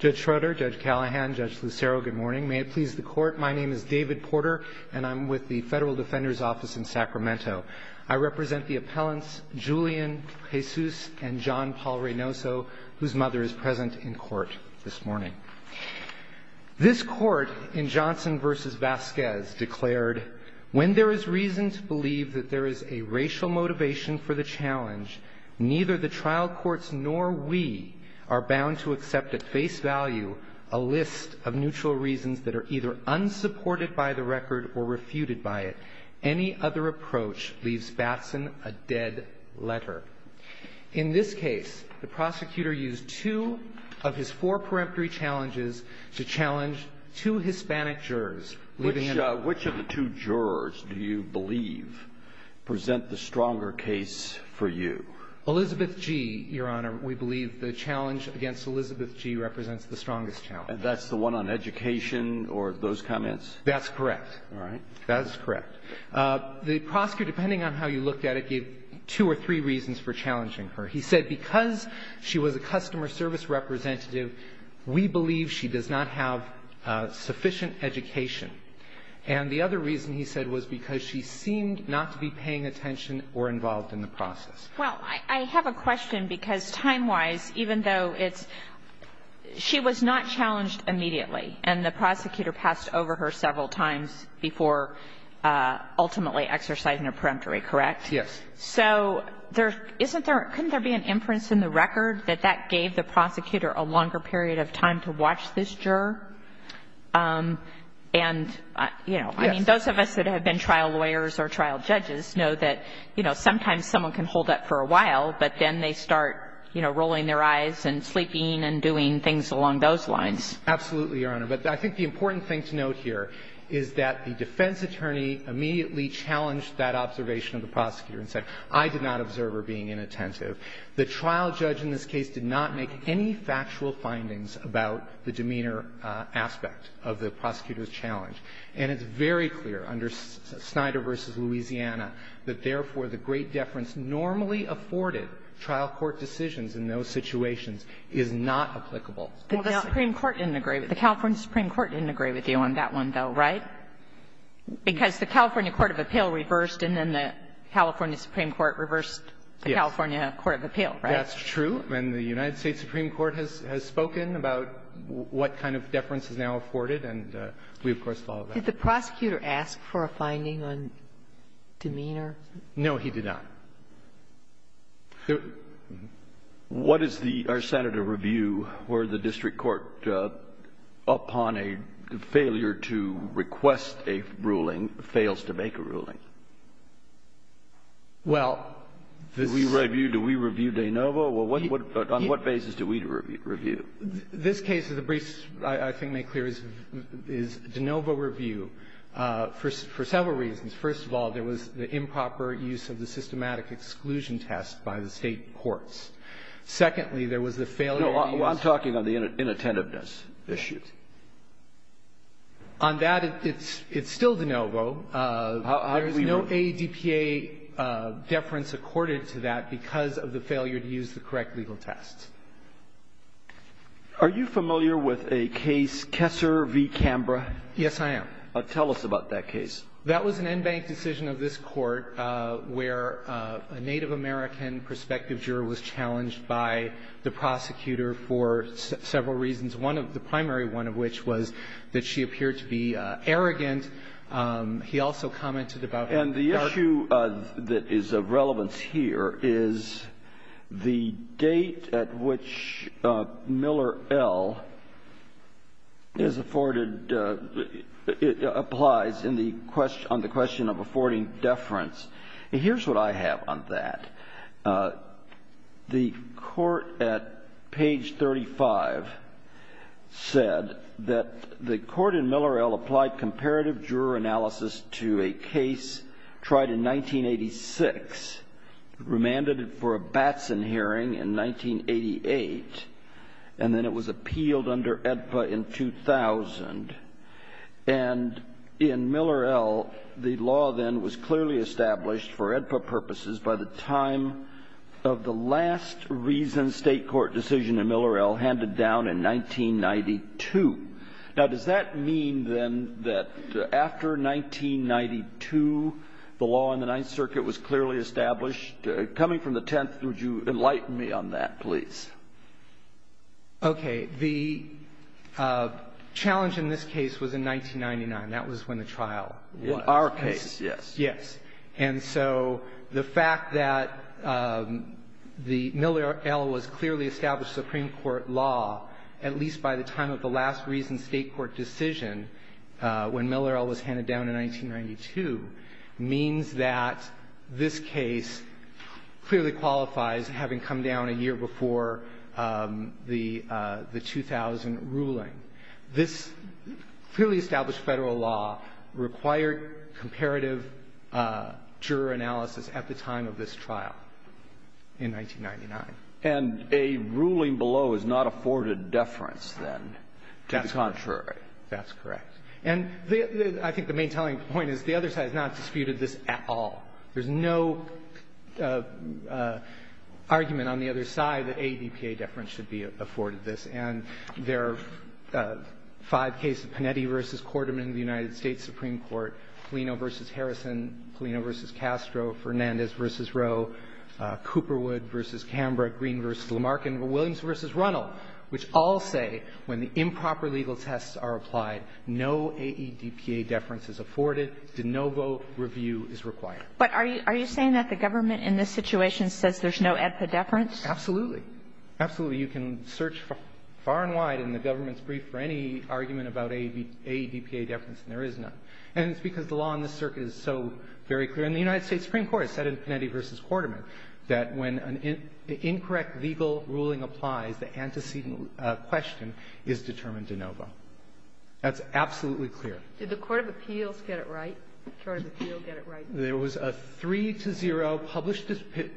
Judge Schroeder, Judge Callahan, Judge Lucero, good morning. May it please the court, my name is David Porter, and I'm with the Federal Defender's Office in Sacramento. I represent the appellants Julian Jesus and John Paul Reynoso, whose mother is present in court this morning. This court in Johnson v. Vasquez declared, when there is reason to believe that there is a racial motivation for the challenge, neither the trial courts nor we are face value a list of neutral reasons that are either unsupported by the record or refuted by it. Any other approach leaves Batson a dead letter. In this case, the prosecutor used two of his four peremptory challenges to challenge two Hispanic jurors living in the country. Which of the two jurors do you believe present the stronger case for you? Elizabeth G, Your Honor, we believe the challenge against Elizabeth G represents the strongest challenge. That's the one on education or those comments? That's correct. All right. That is correct. The prosecutor, depending on how you looked at it, gave two or three reasons for challenging her. He said because she was a customer service representative, we believe she does not have sufficient education. And the other reason, he said, was because she seemed not to be paying attention or involved in the process. Well, I have a question, because time-wise, even though it's – she was not challenged immediately, and the prosecutor passed over her several times before ultimately exercising a peremptory, correct? Yes. So there – isn't there – couldn't there be an inference in the record that that gave the prosecutor a longer period of time to watch this juror? And, you know, I mean, those of us that have been trial lawyers or trial judges know that, you know, sometimes someone can hold that for a while, but then they start, you know, rolling their eyes and sleeping and doing things along those lines. Absolutely, Your Honor. But I think the important thing to note here is that the defense attorney immediately challenged that observation of the prosecutor and said, I did not observe her being inattentive. The trial judge in this case did not make any factual findings about the demeanor aspect of the prosecutor's challenge. And it's very clear under Snyder v. Louisiana that, therefore, the great deference normally afforded trial court decisions in those situations is not applicable. Well, the Supreme Court didn't agree with – the California Supreme Court didn't agree with you on that one, though, right? Because the California court of appeal reversed, and then the California Supreme Court reversed the California court of appeal, right? That's true. And the United States Supreme Court has spoken about what kind of deference is now afforded, and we, of course, follow that. Did the prosecutor ask for a finding on demeanor? No, he did not. What is the – or, Senator, review where the district court, upon a failure to request a ruling, fails to make a ruling? Well, this is – Do we review? Do we review de novo? Well, what – on what basis do we review? This case is a brief – I think may clear is de novo review for several reasons. First of all, there was the improper use of the systematic exclusion test by the State courts. Secondly, there was the failure to use the – No, I'm talking on the inattentiveness issue. On that, it's still de novo. There is no ADPA deference accorded to that because of the failure to use the correct legal test. Are you familiar with a case, Kessler v. Cambra? Yes, I am. Tell us about that case. That was an en banc decision of this court where a Native American prospective juror was challenged by the prosecutor for several reasons, one of – the primary one of which was that she appeared to be arrogant. He also commented about – And the issue that is of relevance here is the date at which Miller L. is afforded – applies in the – on the question of affording deference. Here's what I have on that. The court at page 35 said that the court in Miller L. applied comparative juror analysis to a case tried in 1986, remanded it for a Batson hearing in 1988, and then it was appealed under ADPA in 2000. And in Miller L., the law then was clearly established for ADPA purposes by the time of the last reasoned state court decision in Miller L. handed down in 1992. Now, does that mean then that after 1992, the law in the Ninth Circuit was clearly established? Coming from the Tenth, would you enlighten me on that, please? Okay. The challenge in this case was in 1999. That was when the trial was. Our case, yes. Yes. And so the fact that the Miller L. was clearly established Supreme Court law, at least by the time of the last reasoned state court decision, when Miller L. was handed down in 1992, means that this case clearly qualifies having come down a year before the 2000 ruling. This clearly established Federal law required comparative juror analysis at the time of this trial in 1999. And a ruling below is not afforded deference, then, to the contrary. That's correct. And I think the main telling point is the other side has not disputed this at all. There's no argument on the other side that ADPA deference should be afforded this, and there are five cases, Panetti v. Quarterman of the United States Supreme Court, Polino v. Harrison, Polino v. Castro, Fernandez v. Castro, Cooperwood v. Canberra, Green v. Lamarck, and Williams v. Runnell, which all say when the improper legal tests are applied, no AEDPA deference is afforded. De novo review is required. But are you saying that the government in this situation says there's no ADPA deference? Absolutely. Absolutely. You can search far and wide in the government's brief for any argument about AEDPA deference, and there is none. And it's because the law in this circuit is so very clear. And the United States Supreme Court has said in Panetti v. Quarterman that when an incorrect legal ruling applies, the antecedent question is determined de novo. That's absolutely clear. Did the court of appeals get it right? Court of appeals get it right? There was a 3-0 published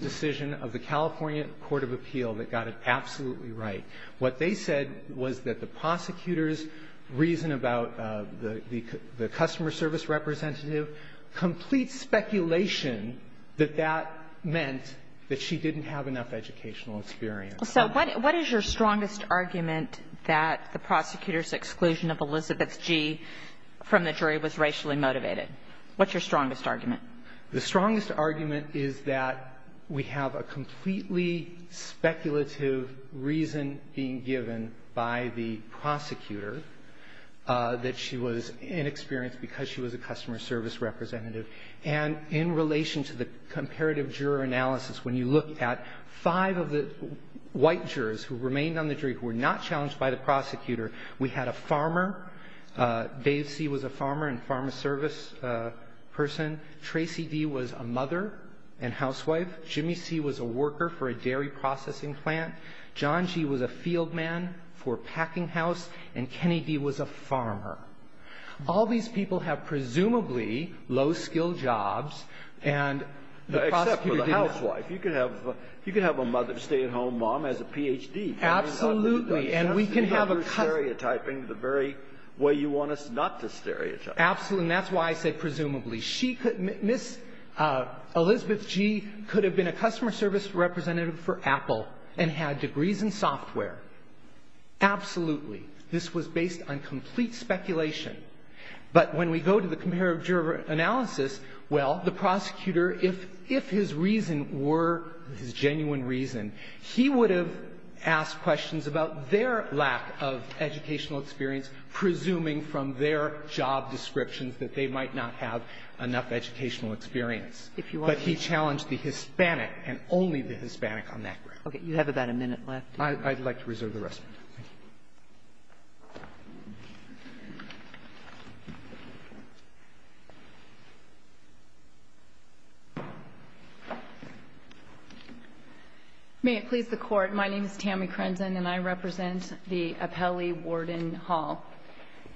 decision of the California court of appeal that got it absolutely right. What they said was that the prosecutor's reason about the customer service representative complete speculation that that meant that she didn't have enough educational experience. So what is your strongest argument that the prosecutor's exclusion of Elizabeth G. from the jury was racially motivated? What's your strongest argument? The strongest argument is that we have a completely speculative reason being given by the prosecutor that she was inexperienced because she was a customer service representative. And in relation to the comparative juror analysis, when you look at five of the white jurors who remained on the jury who were not challenged by the prosecutor, we had a farmer. Dave C. was a farmer and pharma service person. Tracy D. was a mother and housewife. Jimmy C. was a worker for a dairy processing plant. John G. was a field man for a packing house. And Kenny D. was a farmer. All these people have presumably low-skilled jobs and the prosecutor didn't. Except for the housewife. You could have a mother, a stay-at-home mom as a Ph.D. Absolutely. And we can have a customer. That's not your stereotyping the very way you want us not to stereotype. Absolutely. And that's why I say presumably. She could be Ms. Elizabeth G. could have been a customer service representative for Apple and had degrees in software. Absolutely. This was based on complete speculation. But when we go to the comparative juror analysis, well, the prosecutor, if his reason were his genuine reason, he would have asked questions about their lack of educational experience, presuming from their job descriptions that they might not have enough educational experience. But he challenged the Hispanic and only the Hispanic on that ground. Okay. You have about a minute left. I'd like to reserve the rest of my time. Thank you. May it please the Court. My name is Tammy Krenzen and I represent the Appelli Warden Hall.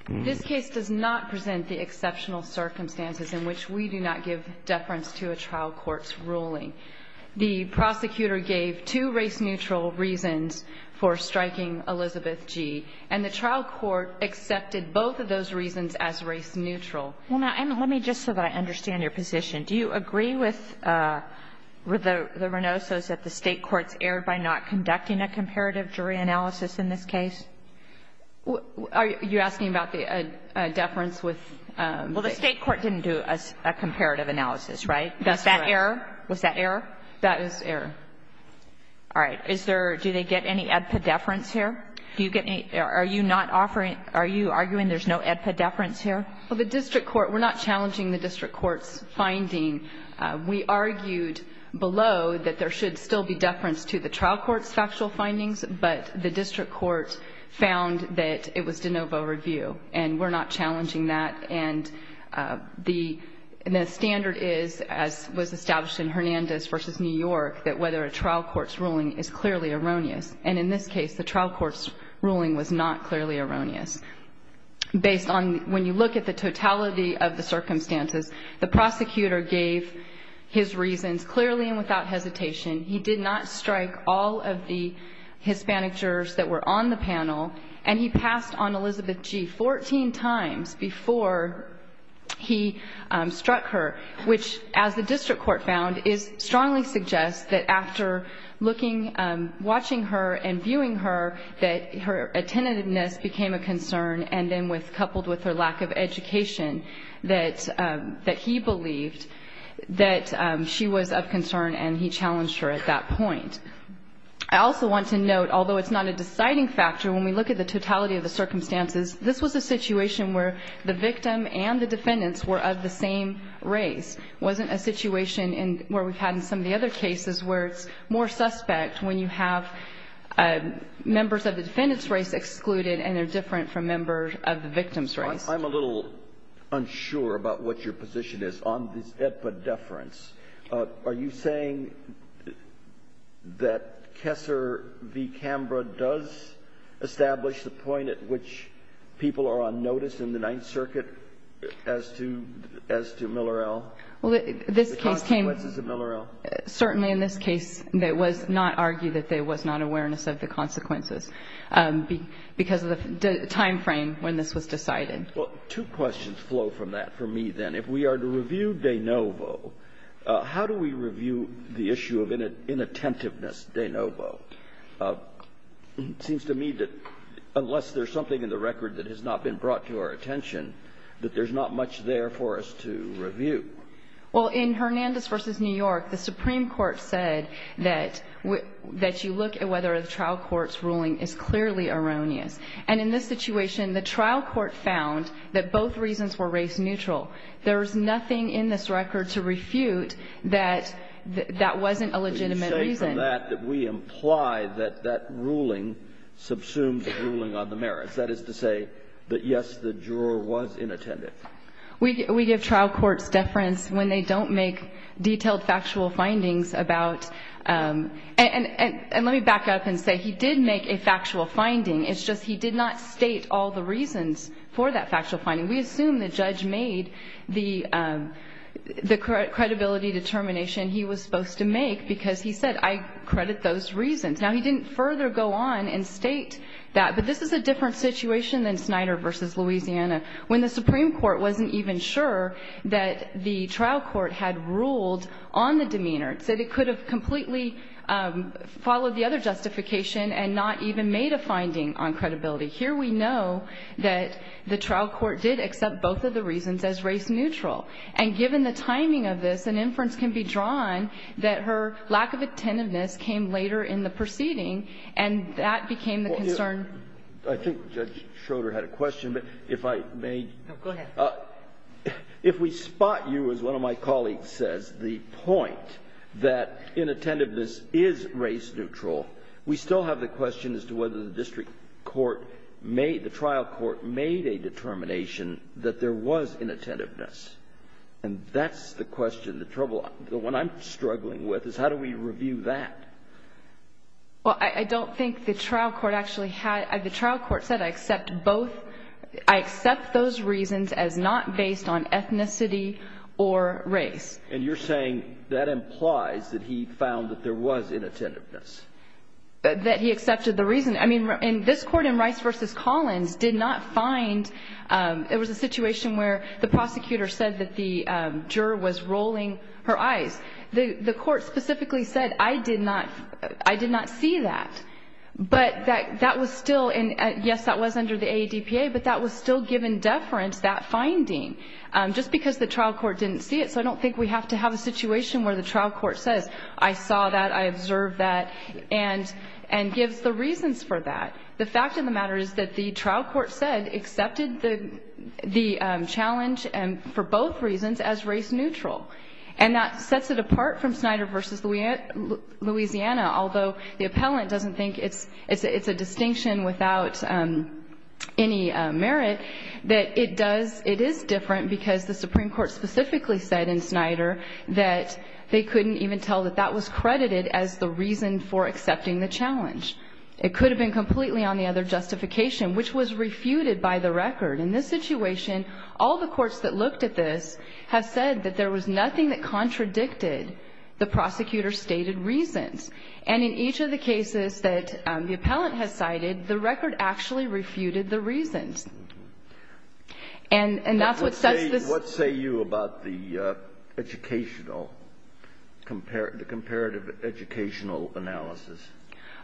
This case does not present the exceptional circumstances in which we do not give deference to a trial court's ruling. The prosecutor gave two race-neutral reasons for striking Elizabeth G., and the trial court accepted both of those reasons as race-neutral. Well, now, let me just so that I understand your position. Do you agree with the Reynoso's that the state courts erred by not conducting a comparative jury analysis in this case? Are you asking about the deference with the... Was that error? Was that error? That is error. All right. Is there... Do they get any epidefference here? Do you get any... Are you not offering... Are you arguing there's no epidefference here? Well, the district court... We're not challenging the district court's finding. We argued below that there should still be deference to the trial court's factual findings, but the district court found that it was de novo review, and we're not challenging that. And the standard is, as was established in Hernandez v. New York, that whether a trial court's ruling is clearly erroneous. And in this case, the trial court's ruling was not clearly erroneous. Based on... When you look at the totality of the circumstances, the prosecutor gave his reasons clearly and without hesitation. He did not strike all of the Hispanic jurors that were on the panel, and he struck her, which, as the district court found, strongly suggests that after looking, watching her and viewing her, that her attentiveness became a concern, and then coupled with her lack of education, that he believed that she was of concern, and he challenged her at that point. I also want to note, although it's not a deciding factor, when we look at the totality of the circumstances, this was a situation where the victim and the defendants were of the same race. It wasn't a situation where we've had in some of the other cases where it's more suspect when you have members of the defendant's race excluded and they're different from members of the victim's race. I'm a little unsure about what your position is on this epideference. Are you saying that Kessler v. De Novo is the point at which people are on notice in the Ninth Circuit as to Miller L.? The consequences of Miller L.? Certainly in this case, it was not argued that there was not awareness of the consequences because of the time frame when this was decided. Well, two questions flow from that for me, then. If we are to review De Novo, how do we review the issue of inattentiveness, De Novo? It seems to me that unless there's something in the record that has not been brought to our attention, that there's not much there for us to review. Well, in Hernandez v. New York, the Supreme Court said that you look at whether the trial court's ruling is clearly erroneous. And in this situation, the trial court found that both reasons were race neutral. There's nothing in this record to refute that that wasn't a legitimate reason. We assume that that we imply that that ruling subsumed the ruling on the merits. That is to say that, yes, the juror was inattentive. We give trial courts deference when they don't make detailed factual findings about – and let me back up and say he did make a factual finding. It's just he did not state all the reasons for that factual finding. We assume the judge made the credibility determination he was supposed to make because he said I credit those reasons. Now, he didn't further go on and state that. But this is a different situation than Snyder v. Louisiana when the Supreme Court wasn't even sure that the trial court had ruled on the demeanor. It said it could have completely followed the other justification and not even made a finding on credibility. Here we know that the trial court did accept both of the reasons as race neutral. And given the timing of this, an inference can be drawn that her lack of attentiveness came later in the proceeding, and that became the concern. I think Judge Schroeder had a question, but if I may. Go ahead. If we spot you, as one of my colleagues says, the point that inattentiveness is race neutral, we still have the question as to whether the district court made – and that's the question, the trouble, the one I'm struggling with, is how do we review that? Well, I don't think the trial court actually had – the trial court said I accept both – I accept those reasons as not based on ethnicity or race. And you're saying that implies that he found that there was inattentiveness. That he accepted the reason. I mean, this court in Rice v. Collins did not find – it was a situation where the prosecutor said that the juror was rolling her eyes. The court specifically said I did not see that. But that was still – yes, that was under the AADPA, but that was still given deference, that finding, just because the trial court didn't see it. So I don't think we have to have a situation where the trial court says, I saw that, I observed that, and gives the reasons for that. The fact of the matter is that the trial court said accepted the challenge for both reasons as race neutral. And that sets it apart from Snyder v. Louisiana, although the appellant doesn't think it's a distinction without any merit, that it does – it is different because the Supreme Court specifically said in Snyder that they couldn't even tell that that was credited as the reason for accepting the challenge. It could have been completely on the other justification, which was refuted by the record. In this situation, all the courts that looked at this have said that there was nothing that contradicted the prosecutor's stated reasons. And in each of the cases that the appellant has cited, the record actually refuted the reasons. And that's what sets this – What say you about the educational – the comparative educational analysis?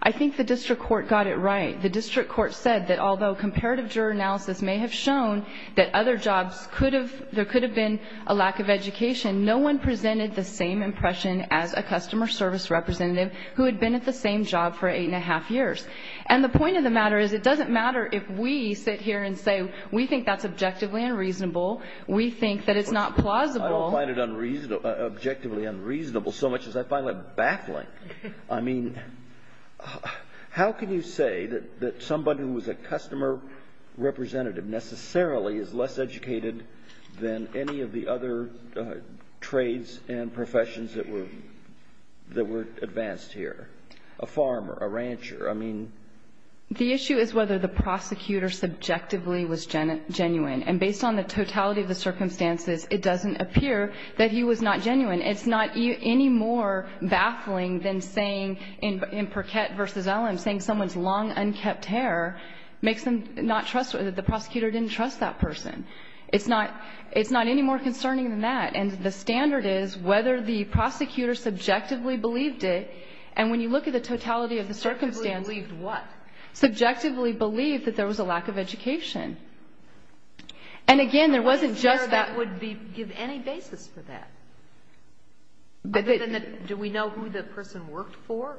I think the district court got it right. The district court said that although comparative analysis may have shown that other jobs could have – there could have been a lack of education, no one presented the same impression as a customer service representative who had been at the same job for eight and a half years. And the point of the matter is it doesn't matter if we sit here and say we think that's objectively unreasonable, we think that it's not plausible. I don't find it objectively unreasonable so much as I find it baffling. I mean, how can you say that somebody who was a customer representative necessarily is less educated than any of the other trades and professions that were – that were advanced here, a farmer, a rancher? I mean – The issue is whether the prosecutor subjectively was genuine. And based on the totality of the circumstances, it doesn't appear that he was not genuine. It's not any more baffling than saying in Perquette v. Ellum, saying someone's long, unkept hair makes them not trust – the prosecutor didn't trust that person. It's not any more concerning than that. And the standard is whether the prosecutor subjectively believed it. And when you look at the totality of the circumstances – Subjectively believed what? Subjectively believed that there was a lack of education. And again, there wasn't just that – I'm not sure that would give any basis for that. Other than that, do we know who the person worked for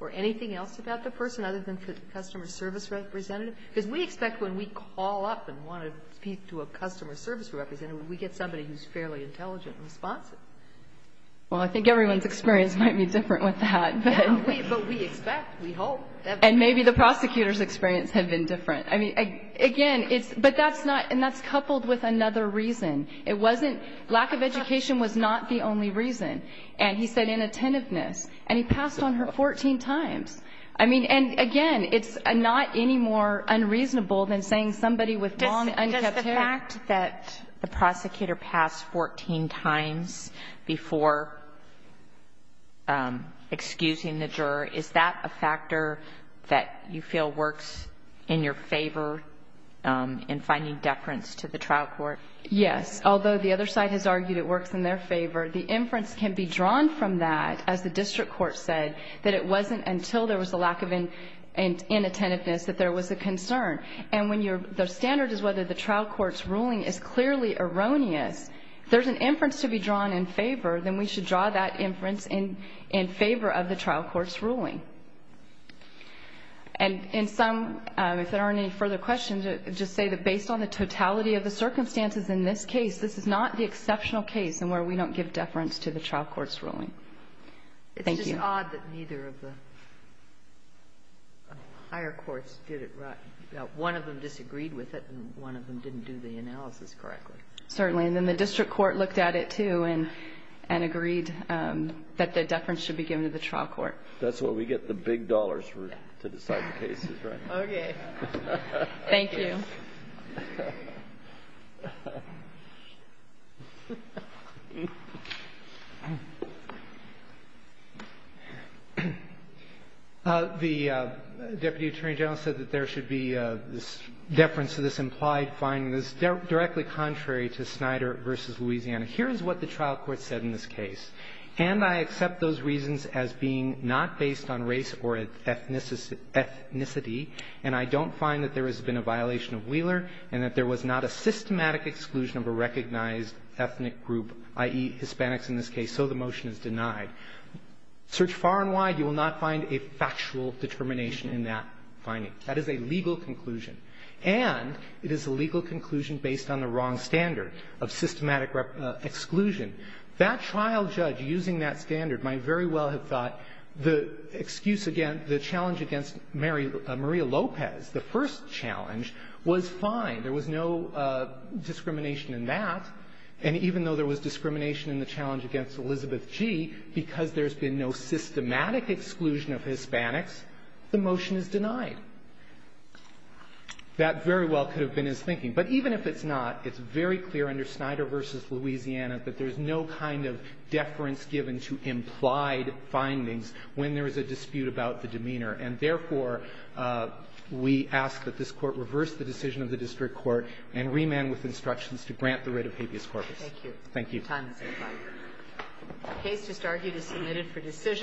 or anything else about the person other than customer service representative? Because we expect when we call up and want to speak to a customer service representative, we get somebody who's fairly intelligent and responsive. Well, I think everyone's experience might be different with that. But we expect. We hope. And maybe the prosecutor's experience had been different. I mean, again, it's – but that's not – and that's coupled with another reason. It wasn't – lack of education was not the only reason. And he said inattentiveness. And he passed on her 14 times. I mean, and again, it's not any more unreasonable than saying somebody with long, unkept hair – Does the fact that the prosecutor passed 14 times before excusing the juror, is that a factor that you feel works in your favor in finding deference to the trial court? Yes. Although the other side has argued it works in their favor, the inference can be drawn from that, as the district court said, that it wasn't until there was a lack of inattentiveness that there was a concern. And when you're – the standard is whether the trial court's ruling is clearly erroneous. If there's an inference to be drawn in favor, then we should draw that inference in favor of the trial court's ruling. And in some – if there aren't any further questions, just say that based on the totality of the circumstances in this case, this is not the exceptional case in where we don't give deference to the trial court's ruling. Thank you. It's just odd that neither of the higher courts did it right. One of them disagreed with it, and one of them didn't do the analysis correctly. Certainly. And then the district court looked at it, too, and agreed that the deference should be given to the trial court. That's where we get the big dollars to decide the cases, right? Okay. Thank you. The deputy attorney general said that there should be deference to this implied finding. This is directly contrary to Snyder v. Louisiana. Here is what the trial court said in this case. And I accept those reasons as being not based on race or ethnicity, and I don't find that there has been a violation of Wheeler and that there was not a systematic exclusion of a recognized ethnic group, i.e., Hispanics in this case, so the motion is denied. Search far and wide, you will not find a factual determination in that finding. That is a legal conclusion. And it is a legal conclusion based on the wrong standard of systematic exclusion. That trial judge using that standard might very well have thought the excuse against the challenge against Maria Lopez, the first challenge, was fine. There was no discrimination in that. And even though there was discrimination in the challenge against Elizabeth G., because there's been no systematic exclusion of Hispanics, the motion is denied. That very well could have been his thinking. But even if it's not, it's very clear under Snyder v. Louisiana that there's no kind of deference given to implied findings when there is a dispute about the demeanor. And, therefore, we ask that this Court reverse the decision of the district court and remand with instructions to grant the writ of habeas corpus. Thank you. The time has expired. The case just argued is submitted for decision.